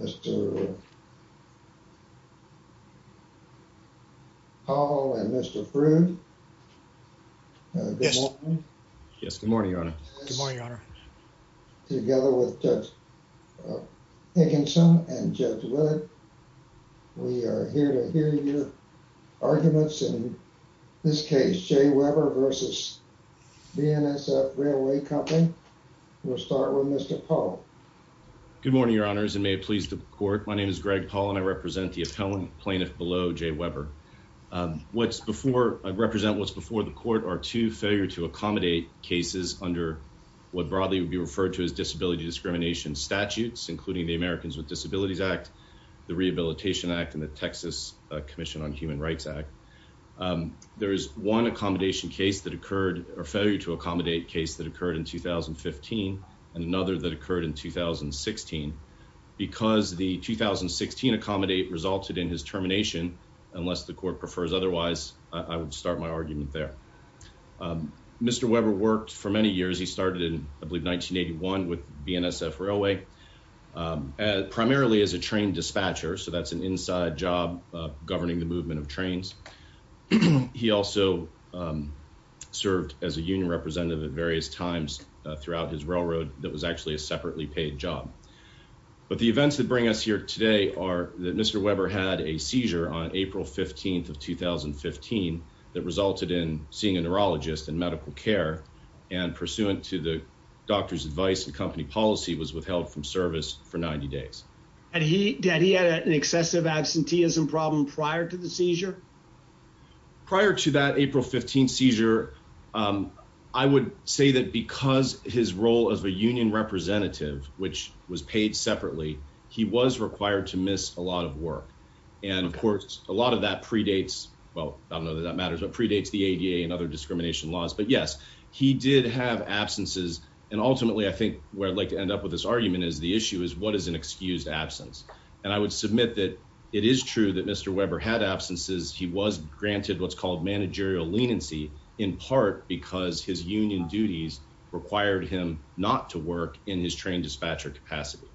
Mr. Powell and Mr. Froude. Good morning. Yes, good morning, Your Honor. Good morning, Your Honor. Together with Judge Hickinson and Judge Wood, we are here to hear your arguments in this case, J. Weber v. BNSF Railway Company. We'll start with Mr. Powell. Good morning, Your Honors, and may it please the Court. My name is Greg Powell, and I represent the appellant plaintiff below, J. Weber. I represent what's before the Court are two failure-to-accommodate cases under what broadly would be referred to as disability discrimination statutes, including the Americans with Disabilities Act, the Rehabilitation Act, and the Texas Commission on Human Rights Act. There is one accommodation case that occurred or failure to accommodate case that occurred in 2015 and another that occurred in 2016. Because the 2016 accommodate resulted in his termination, unless the Court prefers otherwise, I would start my argument there. Mr. Weber worked for many years. He started in I believe 1981 with BNSF Railway, primarily as a train dispatcher. So that's an inside job governing the movement of trains. He also served as a union representative at various times throughout his railroad that was actually a separately paid job. But the events that bring us here today are that Mr. Weber had a seizure on April 15th of 2015 that resulted in seeing a neurologist in medical care and pursuant to the doctor's advice and company policy, was withheld from service for 90 days. And he had an excessive absenteeism problem prior to the seizure. Prior to that April 15 seizure, I would say that because his role as a union representative, which was paid separately, he was required to miss a lot of work. And of course, a lot of that predates well, I don't know that that matters, but predates the ADA and other discrimination laws. But yes, he did have absences. And ultimately, I think where I'd like to end up with this argument is the issue is what is an excused absence. And I would submit that it is true that Mr. Weber had absences. He was granted what's called managerial leniency in part because his union duties required him not to work in his train dispatcher capacity.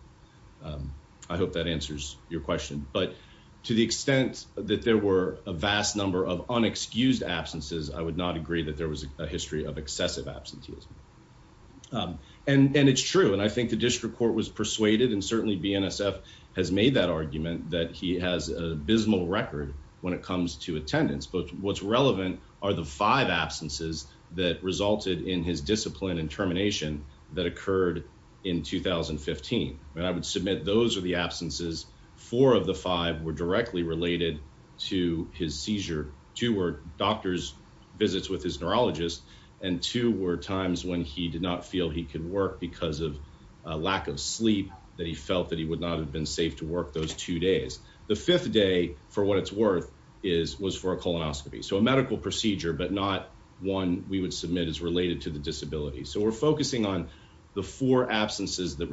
I hope that answers your question. But to the extent that there were a vast number of unexcused absences, I would not agree that there was a excessive absenteeism. And it's true. And I think the district court was persuaded and certainly BNSF has made that argument that he has a abysmal record when it comes to attendance. But what's relevant are the five absences that resulted in his discipline and termination that occurred in 2015. And I would submit those are the absences. Four of the five were directly related to his seizure. Two were doctor's visits with his neurologist. And two were times when he did not feel he could work because of a lack of sleep that he felt that he would not have been safe to work those two days. The fifth day, for what it's worth, was for a colonoscopy. So a medical procedure, but not one we would submit as related to the disability. So we're focusing on the four absences. And if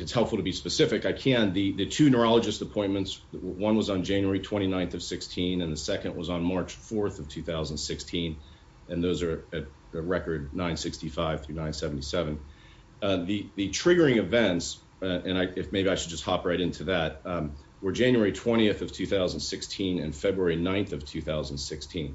it's helpful to be specific, I can. The two neurologist appointments, one was on January 29th of 2016, and the second was on March 4th of 2016. And those are at the record 965 through 977. The triggering events, and maybe I should just hop right into that, were January 20th of 2016 and February 9th of 2016.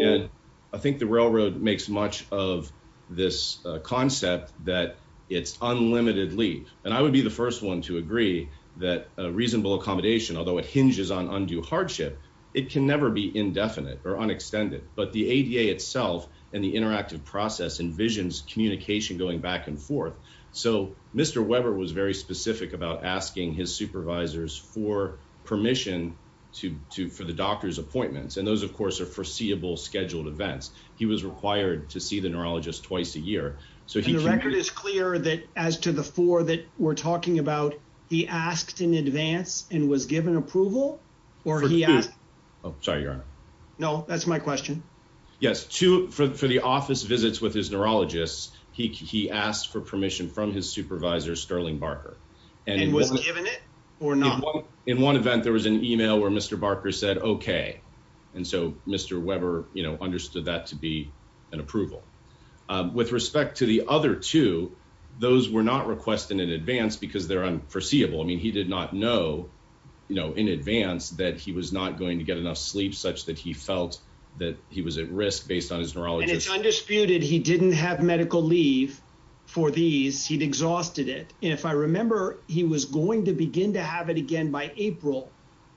And I think the railroad makes much of this concept that it's unlimited leave. And I would be the first one to agree that reasonable accommodation, although it hinges on undue hardship, it can never be indefinite or unextended. But the ADA itself and the interactive process envisions communication going back and forth. So Mr. Weber was very specific about asking his supervisors for permission for the doctor's appointments. And those, of course, are foreseeable scheduled events. He was required to see the neurologist twice a year. So the record is clear that as to the four that we're talking about, he asked in advance and was given approval or he asked. Oh, sorry, your honor. No, that's my question. Yes. Two for the office visits with his neurologists. He asked for permission from his supervisor, Sterling Barker, and was given it or not. In one event, there was an email where Mr. Barker said, OK. And so Mr. Weber understood that to be an approval with respect to the other two. Those were not requested in advance because they're unforeseeable. I mean, he did not know, you know, in advance that he was not going to get enough sleep such that he felt that he was at risk based on his neurologist. And it's undisputed he didn't have medical leave for these. He'd exhausted it. If I remember, he was going to begin to have it again by April.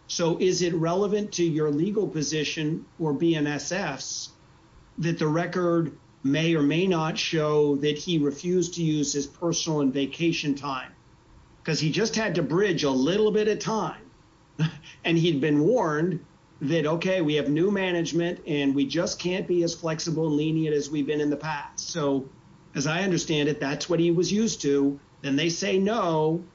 So is it relevant to your legal position or BNSF that the record may or may not show that he refused to use his personal and vacation time because he just had to bridge a little bit of time and he'd been warned that, OK, we have new management and we just can't be as flexible, lenient as we've been in the past. So as I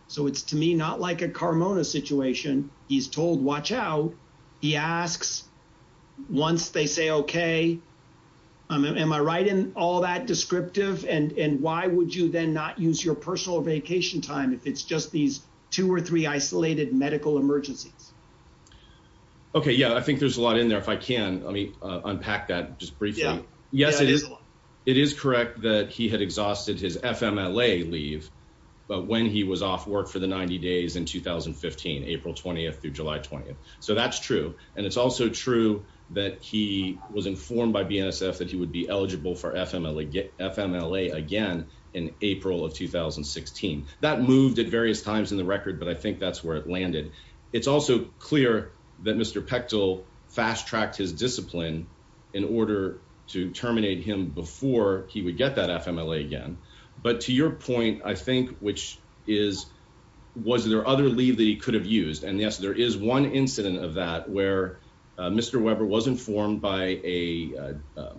so it's to me not like a Carmona situation. He's told, watch out. He asks once they say, OK, am I right in all that descriptive? And why would you then not use your personal vacation time if it's just these two or three isolated medical emergencies? OK, yeah, I think there's a lot in there if I can. I mean, unpack that just briefly. Yes, it is. It is correct that he had exhausted his FMLA leave, but when he was off work for the 90 days in 2015, April 20th through July 20th. So that's true. And it's also true that he was informed by BNSF that he would be eligible for FMLA again in April of 2016. That moved at various times in the record, but I think that's where it landed. It's also clear that Mr. Pechtel fast tracked his discipline in order to terminate him before he would get that FMLA again. But to your point, I think which is, was there other leave that he could have used? And yes, there is one incident of that where Mr. Weber was informed by a, I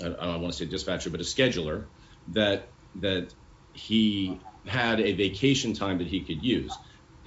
don't want to say dispatcher, but a scheduler that that he had a vacation time that he could use.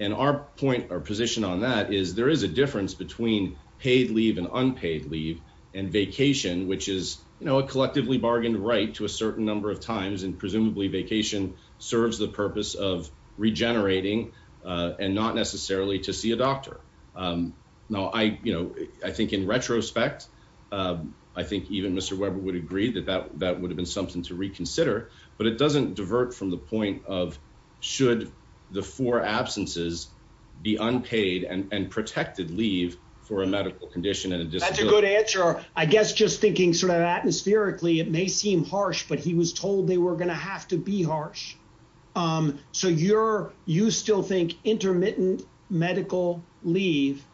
And our point or position on that is there is a difference between paid leave and unpaid leave and vacation, which is a collectively bargained right to a certain number of times. And presumably vacation serves the purpose of regenerating and not necessarily to see a doctor. Now, I think in retrospect, I think even Mr. Weber would agree that that would have been something to reconsider, but it doesn't divert from the point of should the four absences be unpaid and protected leave for a medical condition and a disability. That's a good answer. I guess just thinking sort of atmospherically, it may seem harsh, but he was told they were going to have to be harsh. So you're, you still think intermittent medical leave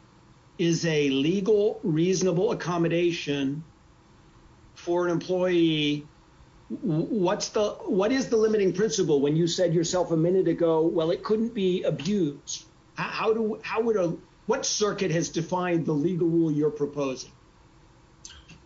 is a legal, reasonable accommodation for an employee. What's the, what is the limiting principle when you said yourself a minute ago, well, it couldn't be abused. How do, how would a, what circuit has defined the legal rule you're proposing?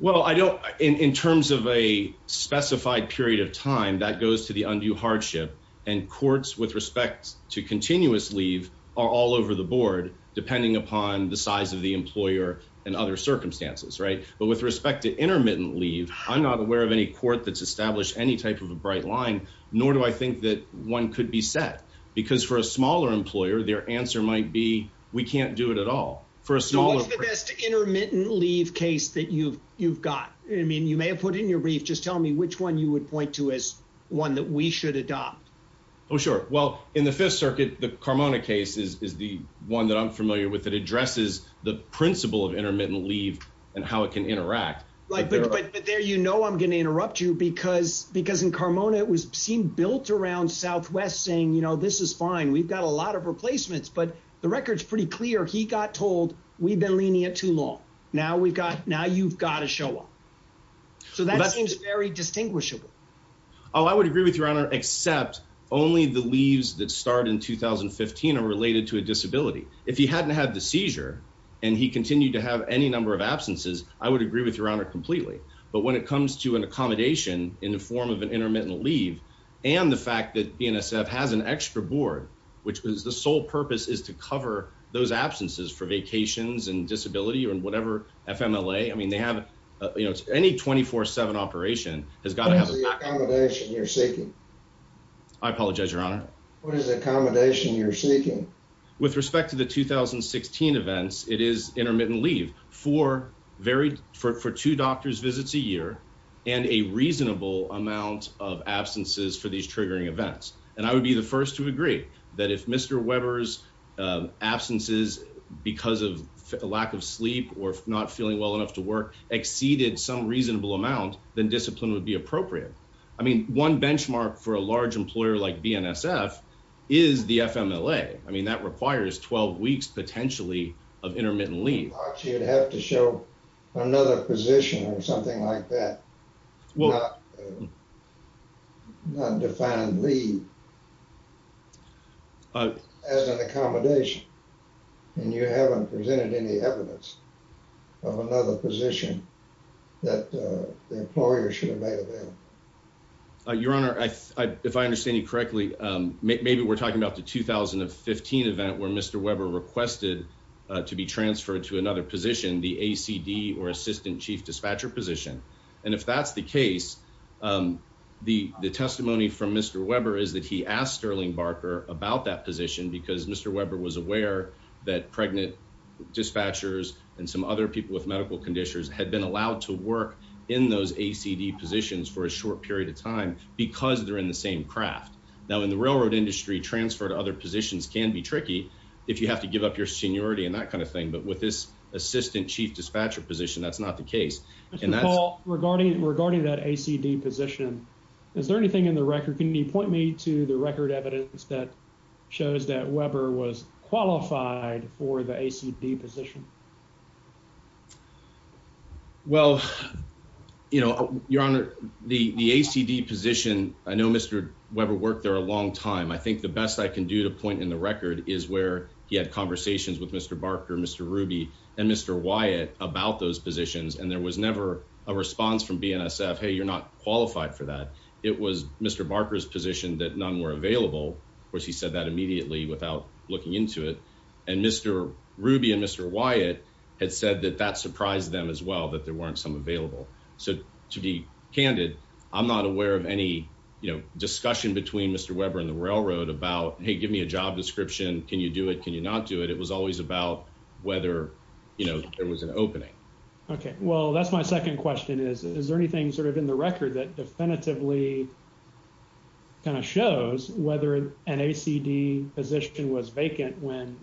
Well, I don't, in terms of a specified period of time that goes to the undue hardship and courts with respect to continuous leave are all over the board, depending upon the size of employer and other circumstances. Right. But with respect to intermittent leave, I'm not aware of any court that's established any type of a bright line, nor do I think that one could be set because for a smaller employer, their answer might be, we can't do it at all for a small intermittent leave case that you've, you've got, I mean, you may have put in your brief, just tell me which one you would point to as one that we should adopt. Oh, sure. Well, in the fifth circuit, the Carmona case is the one that I'm familiar with. It principle of intermittent leave and how it can interact. Like, but there, you know, I'm going to interrupt you because, because in Carmona, it was seemed built around Southwest saying, you know, this is fine. We've got a lot of replacements, but the record's pretty clear. He got told we've been leaning at too long. Now we've got, now you've got to show up. So that seems very distinguishable. Oh, I would agree with your honor, except only the leaves that start in 2015 are related to a seizure. And he continued to have any number of absences. I would agree with your honor completely, but when it comes to an accommodation in the form of an intermittent leave, and the fact that BNSF has an extra board, which was the sole purpose is to cover those absences for vacations and disability or in whatever FMLA. I mean, they have, you know, any 24 seven operation has got to have the accommodation you're seeking. I apologize, your honor. What is the accommodation you're seeking with respect to the 2016 events? It is intermittent leave for varied for, for two doctors visits a year and a reasonable amount of absences for these triggering events. And I would be the first to agree that if Mr. Weber's absences, because of a lack of sleep or not feeling well enough to work exceeded some reasonable amount, then discipline would be appropriate. I mean, one benchmark for a large employer like BNSF is the FMLA. I mean, that requires 12 weeks, potentially of intermittent leave. You'd have to show another position or something like that. Well, not defined leave as an accommodation. And you haven't presented any evidence of another position that the employer should have made available. Your honor, if I understand you correctly, maybe we're talking about the 2015 event where Mr Weber requested to be transferred to another position, the A. C. D. Or assistant chief dispatcher position. And if that's the case, the testimony from Mr Weber is that he asked Sterling Barker about that position because Mr Weber was aware that pregnant dispatchers and some other people with medical conditions had been allowed to work in those A. C. D. Positions for a short period of time because they're in the same craft. Now, in the railroad industry, transfer to other positions can be tricky if you have to give up your seniority and that kind of thing. But with this assistant chief dispatcher position, that's not the case. And that's all regarding regarding that A. C. D. Position. Is there anything in the record? Can you point me to the record evidence that shows that Weber was qualified for the A. C. D. Position? Well, you know, your honor, the A. C. D. Position. I know Mr Weber worked there a long time. I think the best I can do to point in the record is where he had conversations with Mr Barker, Mr Ruby and Mr Wyatt about those positions. And there was never a response from BNSF. Hey, you're not without looking into it. And Mr Ruby and Mr Wyatt had said that that surprised them as well, that there weren't some available. So to be candid, I'm not aware of any discussion between Mr Weber and the railroad about, hey, give me a job description. Can you do it? Can you not do it? It was always about whether, you know, there was an opening. Okay, well, that's my second question is, is there anything sort of in the record that definitively kind of shows whether an A. C. D. Position was vacant when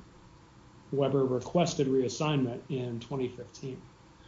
Weber requested reassignment in 2015?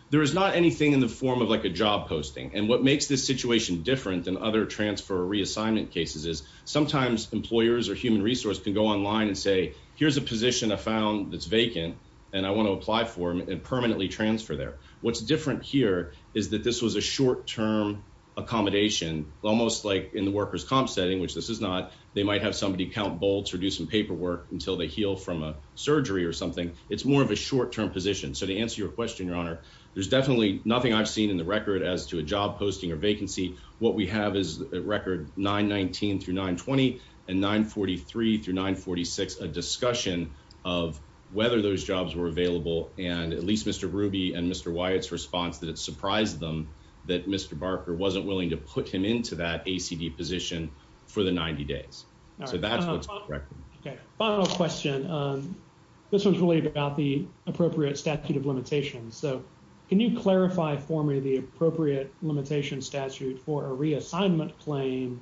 There is not anything in the form of like a job posting. And what makes this situation different than other transfer reassignment cases is sometimes employers or human resource can go online and say, here's a position I found that's vacant and I want to apply for and permanently transfer there. What's different here is that this was a short term accommodation, almost like in the workers comp setting, which this is not. They might have somebody count bolts or do some paperwork until they heal from a surgery or something. It's more of a short term position. So to answer your question, Your Honor, there's definitely nothing I've seen in the record as to a job posting or vacancy. What we have is a record 919 through 920 and 943 through 946, a discussion of whether those responses surprised them that Mr. Barker wasn't willing to put him into that A. C. D. Position for the 90 days. So that's what's correct. Final question. This one's really about the appropriate statute of limitations. So can you clarify for me the appropriate limitation statute for a reassignment claim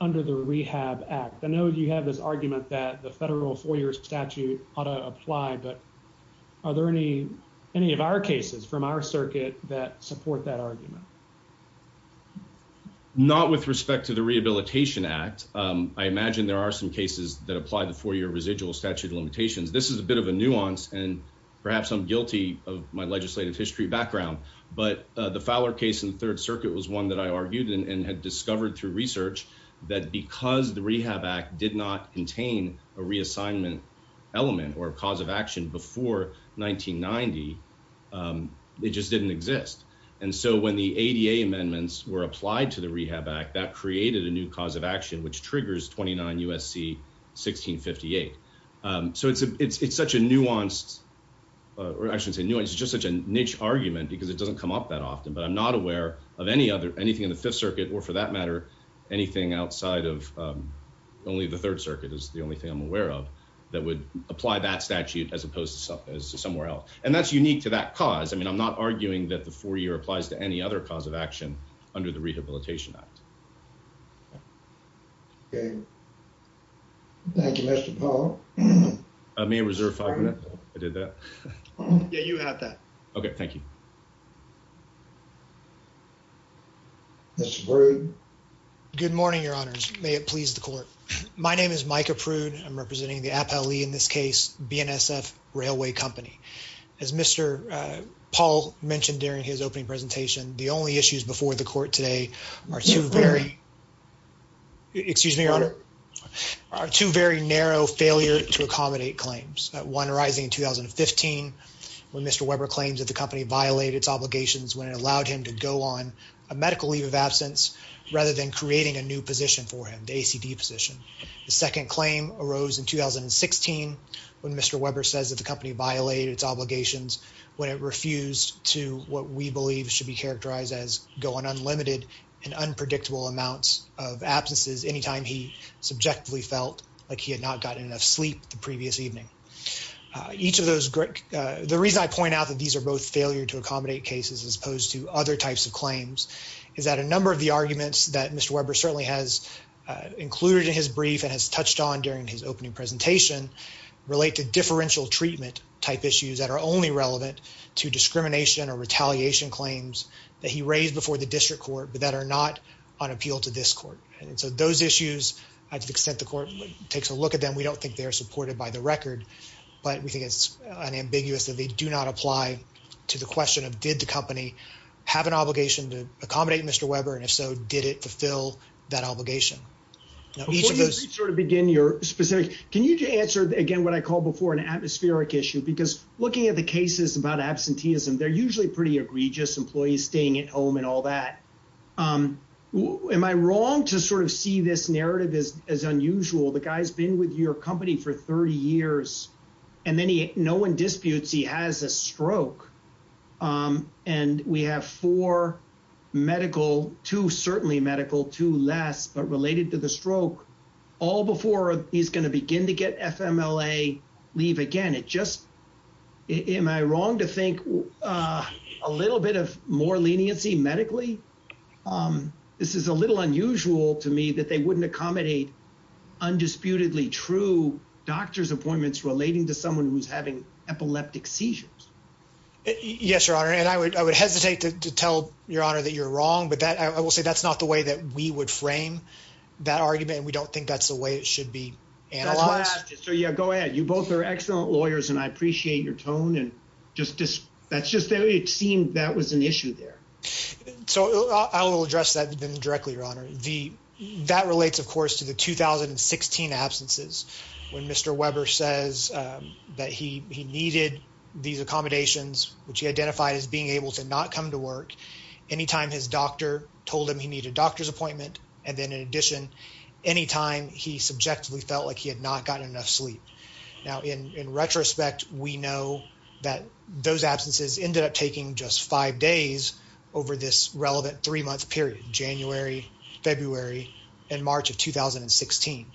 under the Rehab Act? I know you have this argument that the from our circuit that support that argument, not with respect to the Rehabilitation Act. I imagine there are some cases that apply the four year residual statute of limitations. This is a bit of a nuance and perhaps I'm guilty of my legislative history background, but the Fowler case in the Third Circuit was one that I argued and had discovered through research that because the Rehab Act did not contain a reassignment element or cause of action before 1990, um, it just didn't exist. And so when the ADA amendments were applied to the Rehab Act, that created a new cause of action, which triggers 29 U. S. C. 1658. Um, so it's a, it's, it's such a nuanced, uh, or I shouldn't say nuance is just such a niche argument because it doesn't come up that often, but I'm not aware of any other, anything in the Fifth Circuit or for that matter, anything outside of, um, only the Third Circuit is the only thing I'm aware of that would apply that statute as opposed to somewhere else. And that's unique to that cause. I mean, I'm not arguing that the four year applies to any other cause of action under the Rehabilitation Act. Okay. Thank you, Mr. Paul. I may reserve five minutes. I did that. Yeah, you have that. Okay. Thank you. Mr. Prude. Good morning, Your Honors. May it please the court. My name is Micah Prude. I'm representing the Appellee in this case, BNSF Railway Company. As Mr. Paul mentioned during his opening presentation, the only issues before the court today are two very, excuse me, Your Honor, are two very narrow failure to accommodate claims. One arising in 2015 when Mr. Weber claims that company violated its obligations when it allowed him to go on a medical leave of absence rather than creating a new position for him, the ACD position. The second claim arose in 2016 when Mr. Weber says that the company violated its obligations when it refused to what we believe should be characterized as going unlimited and unpredictable amounts of absences anytime he subjectively felt like he had not gotten enough sleep the previous evening. Each of those, the reason I point out that these are both failure to accommodate cases as opposed to other types of claims is that a number of the arguments that Mr. Weber certainly has included in his brief and has touched on during his opening presentation relate to differential treatment type issues that are only relevant to discrimination or retaliation claims that he raised before the district court but that are not on appeal to this court. And so those issues, to the extent the court takes a look at them, we don't think they're supported by the record, but we think it's unambiguous that they do not apply to the question of did the company have an obligation to accommodate Mr. Weber and if so, did it fulfill that obligation? Can you answer again what I called before an atmospheric issue because looking at the cases about absenteeism, they're usually pretty egregious, employees staying at home and all that. Am I wrong to sort of see this narrative as unusual? The guy's been with your company for 30 years and no one disputes he has a stroke and we have four medical, two certainly medical, two less, but related to the stroke, all before he's going to begin to get FMLA leave again. Am I wrong to think a little bit of more leniency medically? Um, this is a little unusual to me that they wouldn't accommodate undisputedly true doctor's appointments relating to someone who's having epileptic seizures. Yes, your honor. And I would, I would hesitate to tell your honor that you're wrong, but that I will say that's not the way that we would frame that argument and we don't think that's the way it should be analyzed. So yeah, go ahead. You both are excellent lawyers and I appreciate your tone and just, that's just, it seemed that was an issue there. So I will address that then directly, your honor. The, that relates of course to the 2016 absences when Mr. Weber says that he, he needed these accommodations, which he identified as being able to not come to work anytime his doctor told him he needed a doctor's appointment. And then in addition, anytime he subjectively felt like he had not gotten enough sleep. Now, in retrospect, we know that those absences ended up taking just five days over this relevant three month period, January, February and March of 2016.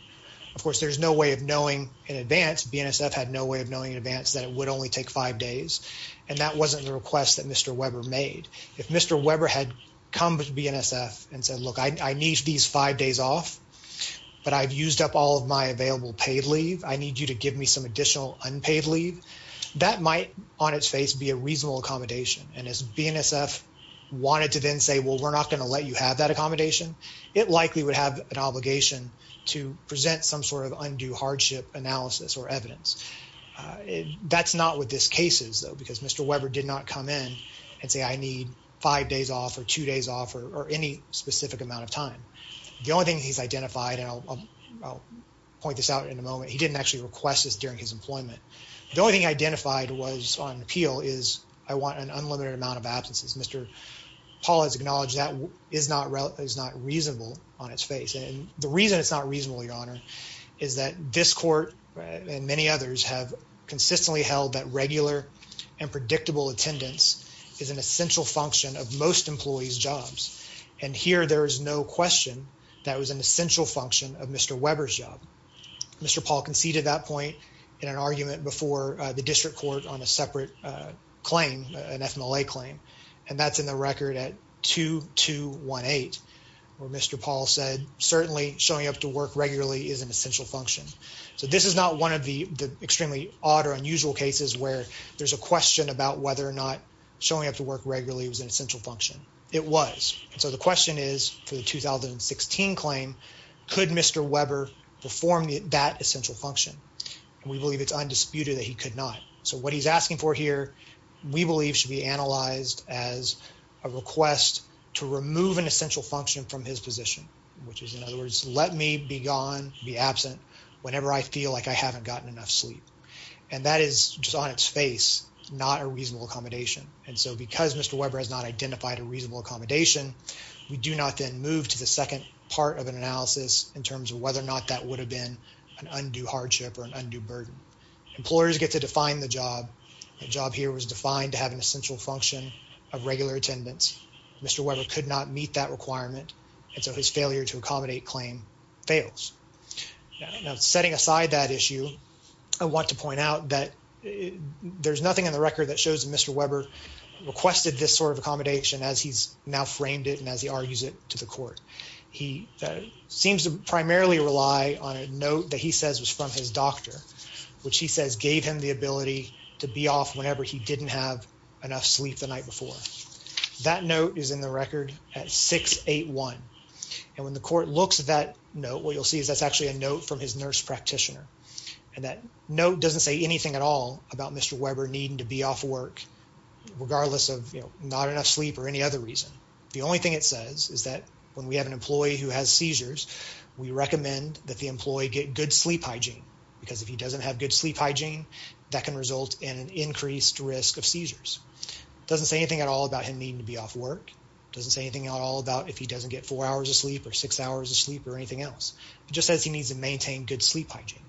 Of course, there's no way of knowing in advance. BNSF had no way of knowing in advance that it would only take five days. And that wasn't the request that Mr. Weber made. If Mr. Weber had come to BNSF and said, look, I need these five days off, but I've used up all of my available paid leave. I need you to give me some additional unpaid leave. That might on its face be a reasonable accommodation. And as BNSF wanted to then say, well, we're not going to let you have that accommodation. It likely would have an obligation to present some sort of undue hardship analysis or evidence. Uh, that's not what this case is though, because Mr. Weber did not come in and say, I need five days off or two days off or any specific amount of time. The only thing he's identified, and I'll point this out in a moment, he didn't actually request this during his employment. The only thing identified was on appeal is I want an unlimited amount of absences. Mr. Paul has acknowledged that is not, is not reasonable on its face. And the reason it's not reasonable, your honor, is that this court and many others have consistently held that regular and predictable attendance is an essential function of most employees' jobs. And here, there is no question that was an essential function of Mr. Weber's job. Mr. Paul conceded that point in an argument before the district court on a separate claim, an FMLA claim, and that's in the record at 2218, where Mr. Paul said, certainly showing up to work regularly is an question about whether or not showing up to work regularly was an essential function. It was. And so the question is for the 2016 claim, could Mr. Weber perform that essential function? And we believe it's undisputed that he could not. So what he's asking for here, we believe should be analyzed as a request to remove an essential function from his position, which is in other words, let me be gone, be absent whenever I feel like I haven't gotten enough sleep. And that is just on its face, not a reasonable accommodation. And so because Mr. Weber has not identified a reasonable accommodation, we do not then move to the second part of an analysis in terms of whether or not that would have been an undue hardship or an undue burden. Employers get to define the job. The job here was defined to have an essential function of regular attendance. Mr. Weber could not meet that requirement. And so his failure to accommodate claim fails. Now setting aside that issue, I want to point out that there's nothing in the record that shows that Mr. Weber requested this sort of accommodation as he's now framed it and as he argues it to the court. He seems to primarily rely on a note that he says was from his doctor, which he says gave him the ability to be off whenever he didn't have enough sleep the night before. That note is in the record at 681. And when the court looks at that note, what you'll see is that's actually a note from his nurse practitioner. And that note doesn't say anything at all about Mr. Weber needing to be off work regardless of, you know, not enough sleep or any other reason. The only thing it says is that when we have an employee who has seizures, we recommend that the employee get good sleep hygiene because if he doesn't have good sleep hygiene, that can result in an increased risk of seizures. Doesn't say anything at all about him needing to be off work. Doesn't say anything at all about if he doesn't get four hours of sleep or six hours of sleep or anything else. It just says he needs to maintain good sleep hygiene.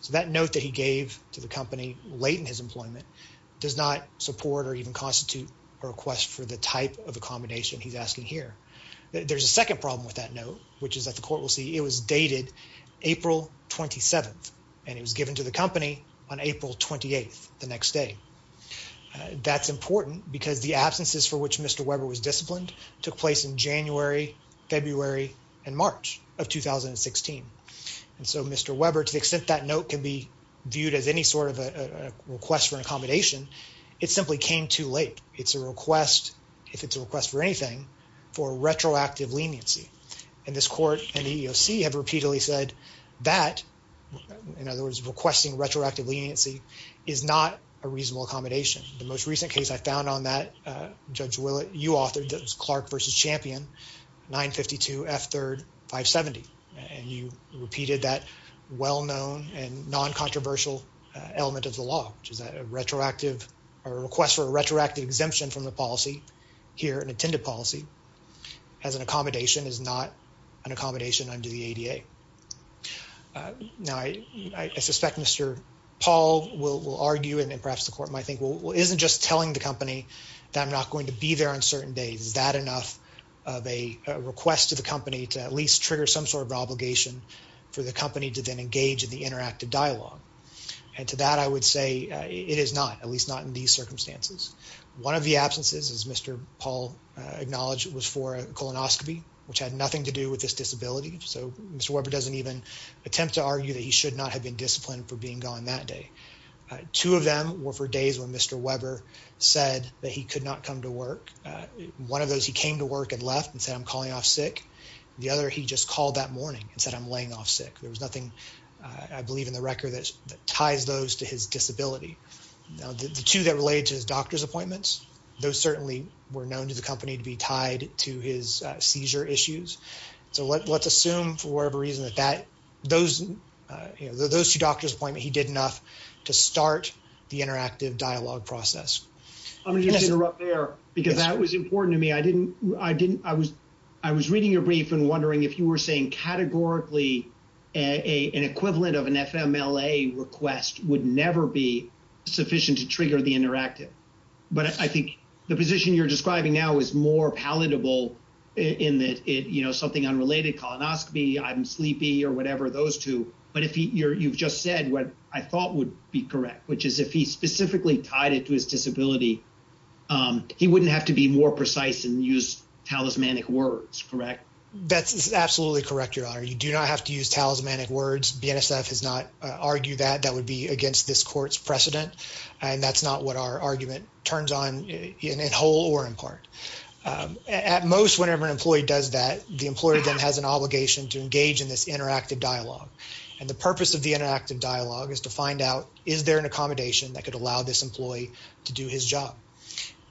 So that note that he gave to the company late in his employment does not support or even constitute a request for the type of accommodation he's asking here. There's a second problem with that note, which is that the the next day. That's important because the absences for which Mr. Weber was disciplined took place in January, February, and March of 2016. And so Mr. Weber, to the extent that note can be viewed as any sort of a request for an accommodation, it simply came too late. It's a request, if it's a request for anything, for retroactive leniency. And this court and the EEOC have repeatedly said that, in other words, requesting retroactive leniency is not a reasonable accommodation. The most recent case I found on that, Judge Willett, you authored, that was Clark v. Champion, 952 F3rd 570. And you repeated that well-known and non-controversial element of the law, which is that a retroactive, a request for a retroactive exemption from the policy as an accommodation is not an accommodation under the ADA. Now, I suspect Mr. Paul will argue, and perhaps the court might think, well, isn't just telling the company that I'm not going to be there on certain days, is that enough of a request to the company to at least trigger some sort of obligation for the company to then engage in the interactive dialogue? And to that, I would say it is not, at least not in these circumstances. One of the absences, as Mr. Paul acknowledged, was for a colonoscopy, which had nothing to do with this disability. So Mr. Weber doesn't even attempt to argue that he should not have been disciplined for being gone that day. Two of them were for days when Mr. Weber said that he could not come to work. One of those, he came to work and left and said, I'm calling off sick. The other, he just called that morning and said, I'm laying off sick. There was nothing, I believe, in the record that ties those to his disability. Now, the two that related to his doctor's appointments, those certainly were known to the company to be tied to his seizure issues. So let's assume, for whatever reason, that those, you know, those two doctor's appointments, he did enough to start the interactive dialogue process. I'm going to just interrupt there because that was important to me. I didn't, I didn't, I was, I was reading your brief and wondering if you were saying categorically an equivalent of an FMLA request would never be sufficient to trigger the interactive. But I think the position you're describing now is more palatable in that it, you know, something unrelated, colonoscopy, I'm sleepy or whatever, those two. But if you're, you've just said what I thought would be correct, which is if he specifically tied it to his disability, he wouldn't have to be more precise and use talismanic words, correct? That's absolutely correct, your honor. You do not have to use talismanic words. BNSF has not argued that that would be against this court's precedent. And that's not what our argument turns on in whole or in part. At most, whenever an employee does that, the employer then has an obligation to engage in this interactive dialogue. And the purpose of the interactive dialogue is to find out, is there an accommodation that could allow this employee to do his job?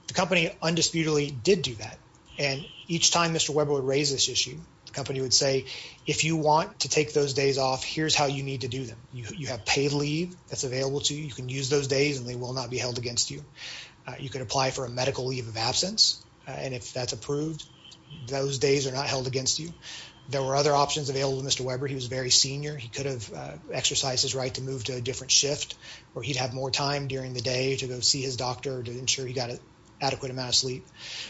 The company undisputedly did do that. And each time Mr. Weber would raise this issue, the company would say, if you want to take those days off, here's how you need to do them. You have paid leave that's available to you. You can use those days and they will not be held against you. You could apply for a medical leave of absence. And if that's approved, those days are not held against you. There were other options available to Mr. Weber. He was very senior. He could have exercised his right to move to a different shift or he'd have more time during the day to go see his doctor to ensure he got an adequate amount of sleep.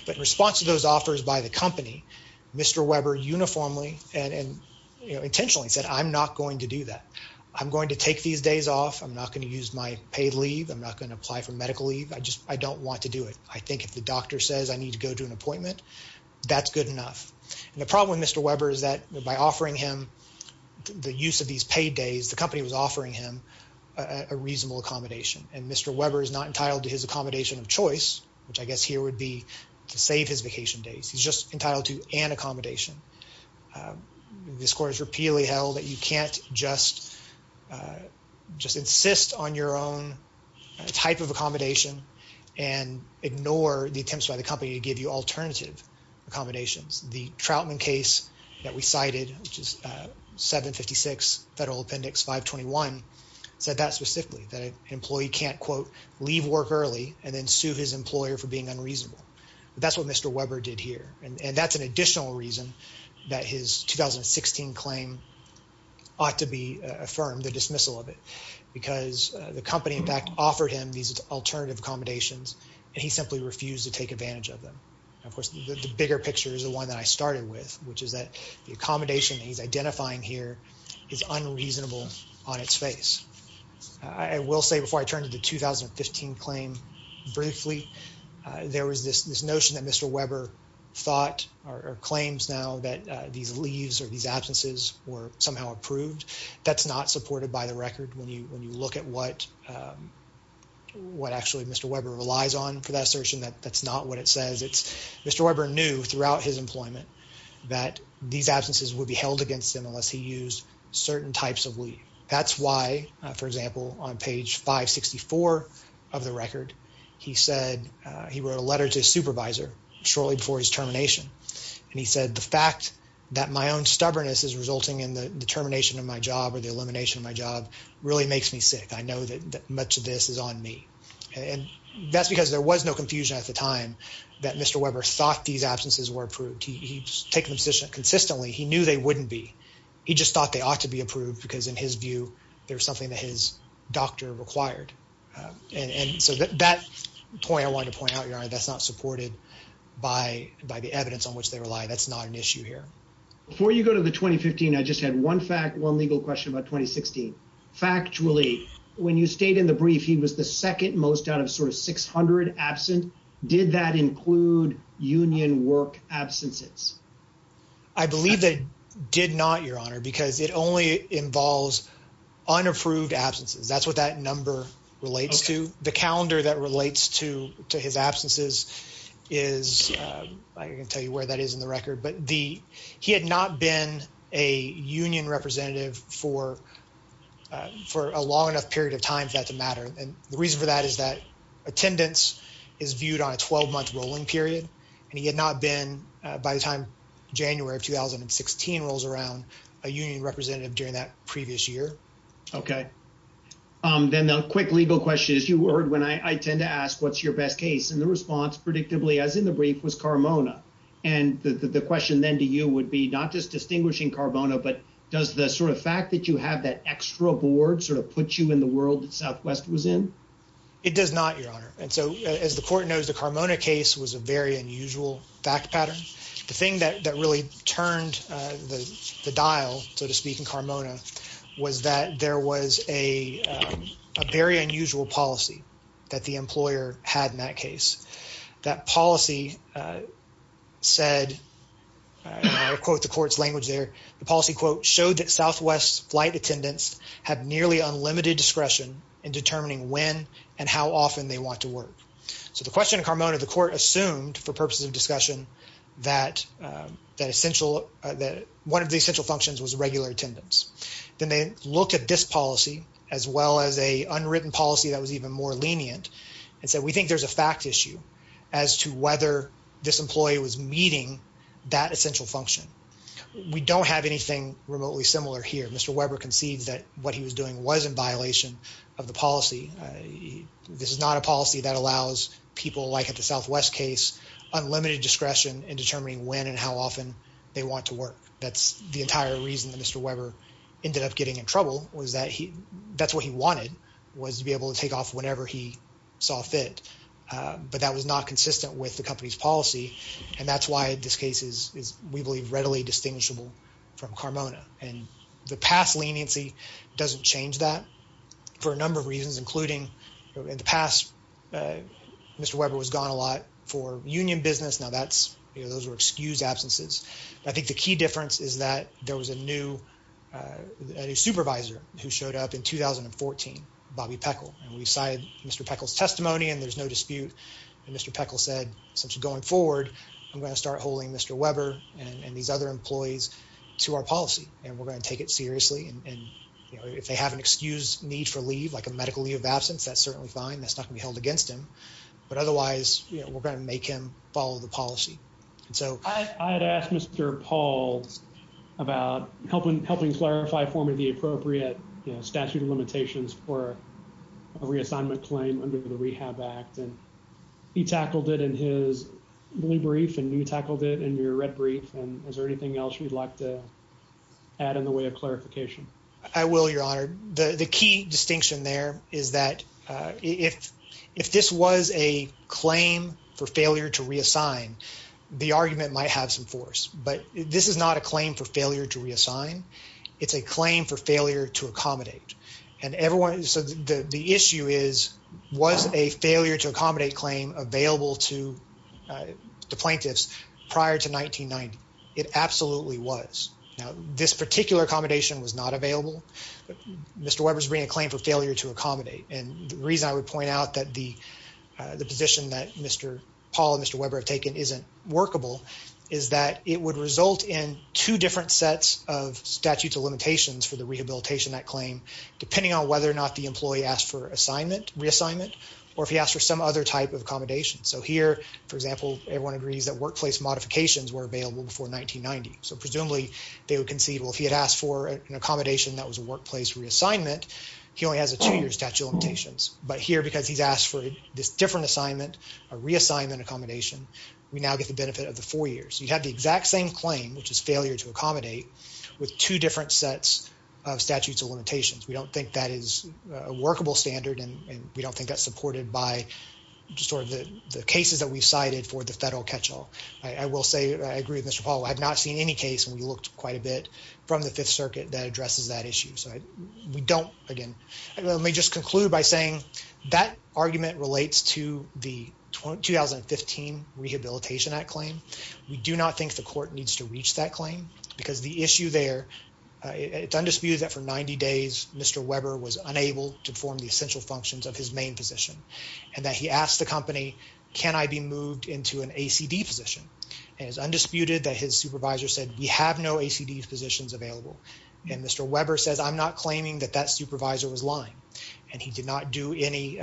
But in response to those offers by the company, Mr. Weber uniformly and intentionally said, I'm not going to do that. I'm going to take these days off. I'm not going to use my paid leave. I'm not going to apply for medical leave. I just I don't want to do it. I think if the doctor says I need to go to an appointment, that's good enough. And the problem with Mr. Weber is that by offering him the use of these paid days, the company was offering him a reasonable accommodation. And Mr. Weber is not entitled to his accommodation of choice, which I guess here would be to save his vacation days. He's just entitled to an accommodation. The score is repeatedly held that you can't just just insist on your own type of accommodation and ignore the attempts by the company to give you alternative accommodations. The Troutman case that we cited, which is 756 Federal Appendix 521, said that specifically, that an employee can't, quote, leave work early and then sue his employer for being unreasonable. But that's what Mr. Weber did here. And that's an additional reason that his 2016 claim ought to be affirmed, the dismissal of it, because the company, in fact, offered him these alternative accommodations and he simply refused to take advantage of them. Of course, the bigger picture is the one that I started with, which is that the accommodation he's identifying here is unreasonable on its face. I will say before I turn to the 2015 claim, briefly, there was this notion that Mr. Weber thought or claims now that these leaves or these absences were somehow approved. That's not supported by the record. When you look at what actually Mr. Weber relies on for that assertion, that's not what it is. He said that these absences would be held against him unless he used certain types of leave. That's why, for example, on page 564 of the record, he said, he wrote a letter to his supervisor shortly before his termination. And he said, the fact that my own stubbornness is resulting in the termination of my job or the elimination of my job really makes me sick. I know that much of this is on me. And that's because there was no confusion at the time that Mr. Weber thought these absences were approved. He's taken them consistently. He knew they wouldn't be. He just thought they ought to be approved because in his view, there was something that his doctor required. And so that point I wanted to point out, Your Honor, that's not supported by the evidence on which they rely. That's not an issue here. Before you go to the 2015, I just had one fact, one legal question about 2016. Factually, when you stayed in the brief, he was the second most out of sort of 600 absent. Did that include union work absences? I believe that did not, Your Honor, because it only involves unapproved absences. That's what that number relates to. The calendar that relates to his absences is, I can tell you where that is in the record, but he had not been a union representative for a long enough period of time for that to matter. And the reason for that is that attendance is viewed on a 12-month rolling period, and he had not been, by the time January of 2016 rolls around, a union representative during that previous year. Okay. Then the quick legal question is, you heard when I tend to ask, what's your best case? And the response predictably, as in the brief, was Carbona. And the question then to you would be not just distinguishing Carbona, but does the sort of fact that you have that extra board sort of put you in the world that Southwest was in? It does not, Your Honor. And so as the court knows, the Carbona case was a very unusual fact pattern. The thing that really turned the dial, so to speak, in Carbona was that there was a very unusual policy that the employer had in that case. That policy said, and I'll quote the court's language there, the policy, quote, that Southwest flight attendants have nearly unlimited discretion in determining when and how often they want to work. So the question in Carbona, the court assumed for purposes of discussion that essential, that one of the essential functions was regular attendance. Then they looked at this policy, as well as a unwritten policy that was even more lenient, and said, we think there's a fact issue as to whether this employee was meeting that essential function. We don't have anything remotely similar here. Mr. Weber concedes that what he was doing was in violation of the policy. This is not a policy that allows people like at the Southwest case unlimited discretion in determining when and how often they want to work. That's the entire reason that Mr. Weber ended up getting in trouble, was that he, that's what he wanted, was to be able to take off whenever he saw fit. But that was not consistent with the company's policy, and that's this case is, we believe, readily distinguishable from Carbona. And the past leniency doesn't change that for a number of reasons, including in the past, Mr. Weber was gone a lot for union business. Now that's, you know, those were excused absences. I think the key difference is that there was a new supervisor who showed up in 2014, Bobby Peckle, and we cited Mr. Peckle's testimony, and there's no dispute. And Mr. Peckle said, essentially, going forward, I'm going to start holding Mr. Weber and these other employees to our policy, and we're going to take it seriously, and, you know, if they have an excused need for leave, like a medical leave of absence, that's certainly fine. That's not going to be held against him, but otherwise, you know, we're going to make him follow the policy. And so, I had asked Mr. Paul about helping clarify for me the appropriate statute of limitations for a reassignment claim under the Rehab Act, and he tackled it in his blue brief, and you tackled it in your red brief. And is there anything else you'd like to add in the way of clarification? I will, Your Honor. The key distinction there is that if this was a claim for failure to reassign, the argument might have some force, but this is not a claim for failure to reassign. It's a claim for failure to accommodate. And everyone, so the issue is, was a failure to accommodate claim available to plaintiffs prior to 1990? It absolutely was. Now, this particular accommodation was not available. Mr. Weber's bringing a claim for failure to accommodate, and the reason I would point out that the position that Mr. Paul and Mr. Weber have taken isn't workable is that it would result in two different sets of statute of limitations for the rehabilitation of that claim, depending on whether or not the employee asked for reassignment or if he asked for some other type of accommodation. So here, for example, everyone agrees that workplace modifications were available before 1990. So presumably, they would concede, well, if he had asked for an accommodation that was a workplace reassignment, he only has a two-year statute of limitations. But here, because he's asked for this different assignment, a reassignment accommodation, we now get the benefit of the four years. You have the exact same claim, which is failure to accommodate, with two different sets of statutes of limitations. We don't think that is a workable standard, and we don't think that's supported by sort of the cases that we've cited for the federal catch-all. I will say, I agree with Mr. Paul, I have not seen any case, and we looked quite a bit from the Fifth Circuit that addresses that issue. So we don't, again, let me just conclude by saying that argument relates to the 2015 Rehabilitation Act claim. We do not think the court needs to reach that claim, because the issue there, it's undisputed that for 90 days, Mr. Weber was unable to perform the essential functions of his main position, and that he asked the company, can I be moved into an ACD position? And it's undisputed that his supervisor said, we have no ACD positions available. And Mr. Weber says, I'm not claiming that that supervisor was lying. And he did not do any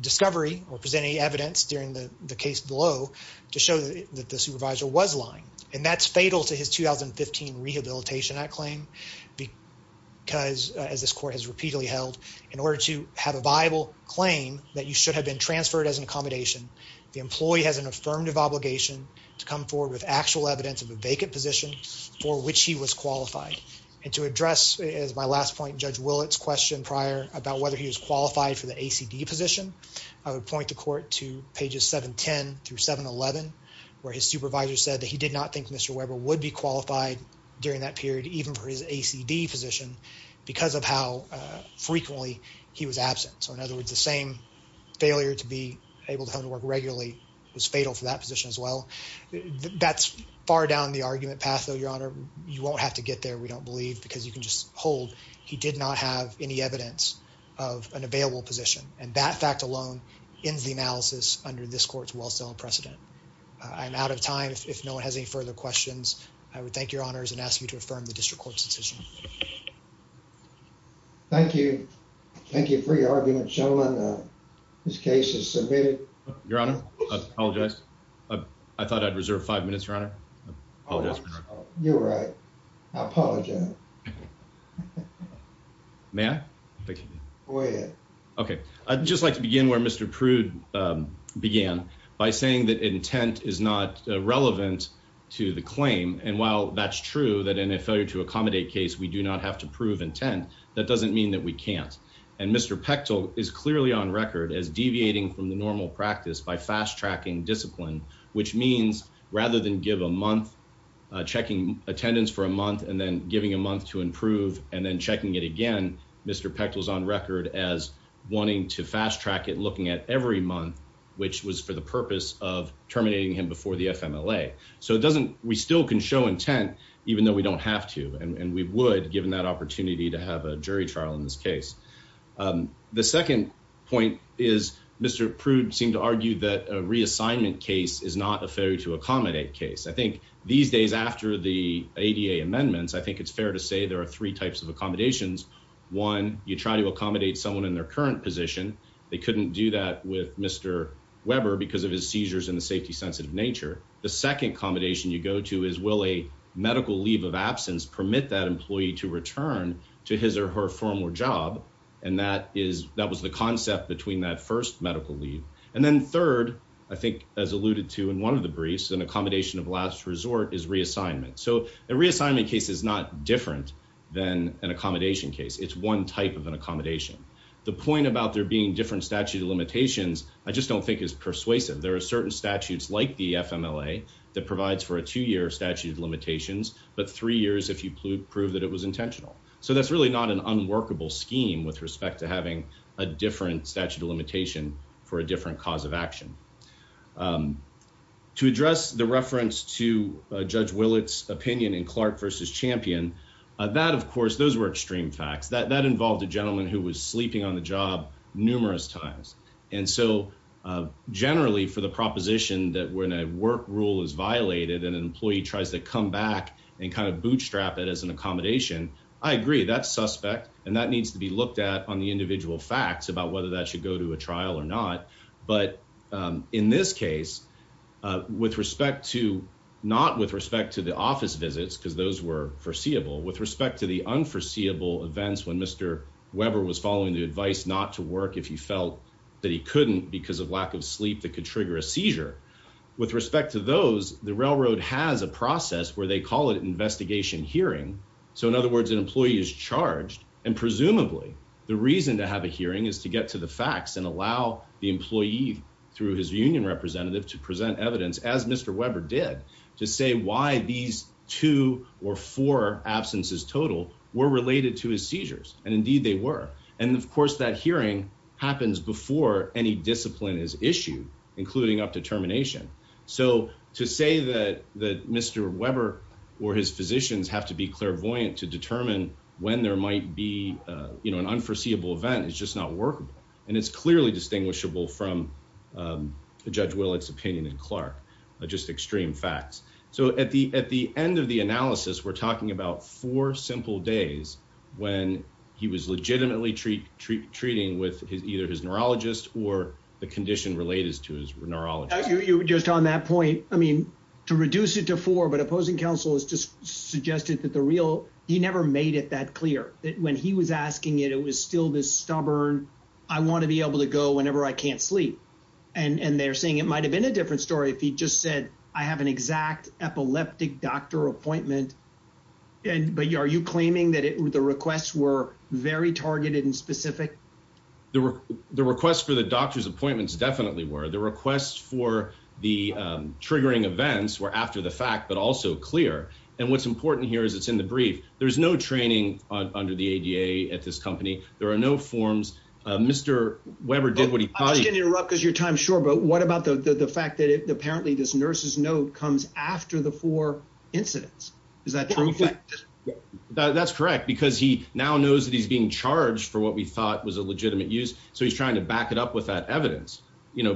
discovery or present any evidence during the case below to show that the supervisor was lying. And that's fatal to his 2015 Rehabilitation Act claim, because, as this court has repeatedly held, in order to have a viable claim that you should have been transferred as an accommodation, the employee has an affirmative obligation to come forward with actual evidence of a vacant position for which he was qualified. And to address, as my last point, Judge Willett's question prior about whether he was qualified for the ACD position, I would point the court to pages 710 through 711, where his supervisor said that he did not think Mr. Weber would be qualified during that period, even for his ACD position, because of how frequently he was absent. So, in other words, the same failure to be able to come to work regularly was fatal for that position as well. That's far down the argument path, though, Your Honor. You won't have to get there, we don't believe, because you can just hold. He did not have any evidence of an available position, and that fact alone ends the analysis under this court's well-sounding precedent. I'm out of time. If no one has any further questions, I would thank Your Honors and ask you to affirm the District Court's decision. Thank you. Thank you for your argument, gentlemen. This case is submitted. Your Honor, I apologize. I thought I'd reserve five minutes, Your Honor. I apologize. You're right. I apologize. May I? Go ahead. Okay, I'd just like to begin where Mr. Prude began, by saying that intent is not relevant to the claim, and while that's true, that in a failure to accommodate case, we do not have to prove intent, that doesn't mean that we can't. And Mr. Pechtel is clearly on record as deviating from the normal practice by fast-tracking discipline, which means rather than give a month, checking attendance for a month, and then giving a month to improve, and then checking it again, Mr. Pechtel's on record as wanting to fast-track it, looking at every month, which was for the purpose of terminating him before the FMLA. So it doesn't, we still can show intent, even though we don't have to, and we would, given that opportunity to have a jury trial in this case. The second point is Mr. Prude seemed to argue that a reassignment case is not a failure to accommodate case. I think these days, after the ADA amendments, I think it's fair to say there are three types of accommodations. One, you try to accommodate someone in their current position, they couldn't do that with Mr. Weber because of his seizures and the safety-sensitive nature. The second accommodation you go to is, will a medical leave of absence permit that employee to return to his or her former job? And that is, that was the concept between that first medical leave. And then third, I think as alluded to in one of the briefs, an accommodation of last resort is reassignment. So a reassignment case is not different than an accommodation case. It's one type of an accommodation. The point about there being different statute of limitations, I just don't think is persuasive. There are certain statutes like the FMLA that provides for a two-year statute of limitations, but three years if you prove that it was intentional. So that's really not an unworkable scheme with respect to a different statute of limitation for a different cause of action. To address the reference to Judge Willett's opinion in Clark v. Champion, that of course, those were extreme facts. That involved a gentleman who was sleeping on the job numerous times. And so generally for the proposition that when a work rule is violated and an employee tries to come back and kind of bootstrap it as an accommodation, I agree, that's suspect. And that needs to be looked at on the individual facts about whether that should go to a trial or not. But in this case, with respect to, not with respect to the office visits, because those were foreseeable, with respect to the unforeseeable events when Mr. Weber was following the advice not to work if he felt that he couldn't because of lack of sleep that could trigger a seizure. With respect to those, the railroad has a process where they is charged and presumably the reason to have a hearing is to get to the facts and allow the employee through his union representative to present evidence as Mr. Weber did to say why these two or four absences total were related to his seizures. And indeed they were. And of course, that hearing happens before any discipline is issued, including up to termination. So to say that Mr. Weber or his physicians have to be clairvoyant to determine when there might be an unforeseeable event is just not workable. And it's clearly distinguishable from Judge Willard's opinion in Clark, just extreme facts. So at the end of the analysis, we're talking about four simple days when he was legitimately treating with either his neurologist or the condition related to his neurologist. You just on that point, I mean, to reduce it to four, but opposing counsel has just suggested that the real he never made it that clear that when he was asking it, it was still this stubborn. I want to be able to go whenever I can't sleep. And they're saying it might have been a different story if he just said, I have an exact epileptic doctor appointment. But are you claiming that the requests were very targeted and specific? The request for the doctor's appointments definitely were the request for the triggering events were after the fact, but also clear. And what's important here is it's in the brief. There's no training under the ADA at this company. There are no forms. Mr. Weber did what he can't interrupt because your time's short. But what about the fact that apparently this nurse's note comes after the four incidents? Is that true? That's correct. Because he now knows that he's being charged for what we thought was a legitimate use. So he's trying to back it up with that evidence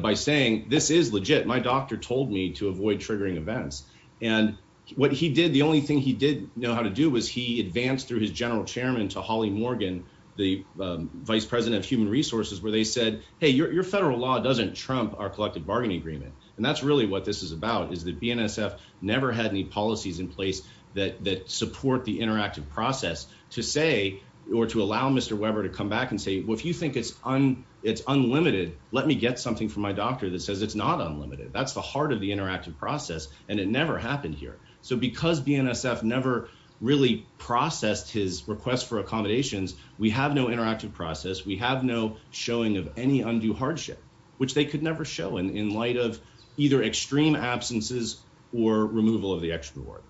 by saying this is legit. My doctor told me to avoid triggering events. And what he did, the only thing he did know how to do was he advanced through his general chairman to Holly Morgan, the vice president of human resources, where they said, hey, your federal law doesn't trump our collective bargaining agreement. And that's really what this is about, is that BNSF never had any policies in place that support the interactive process to say, or to allow Mr. Weber to come back and say, well, if you think it's unlimited, let me get something from my doctor that says it's not unlimited. That's the heart of the interactive process. And it never happened here. So because BNSF never really processed his request for accommodations, we have no interactive process. We have no showing of any undue hardship, which they could never show in light of either extreme absences or removal of the extra reward.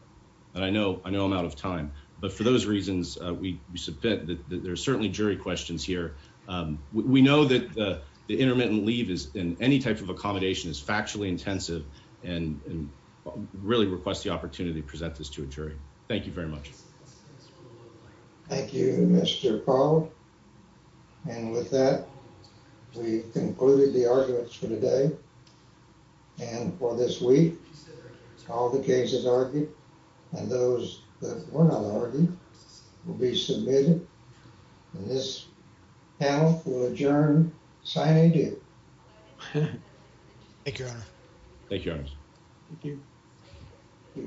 And I know, I know I'm out of time, but for those reasons, we submit that there are certainly jury questions here. We know that the intermittent leave is in any type of accommodation is factually intensive and really request the opportunity to present this to a jury. Thank you very much. Thank you, Mr. Powell. And with that, we've concluded the arguments for today. And for this week, all the cases argued and those that were not argued will be submitted. And this panel will adjourn signing due. Thank you, Your Honor. Thank you, Your Honor. Thank you.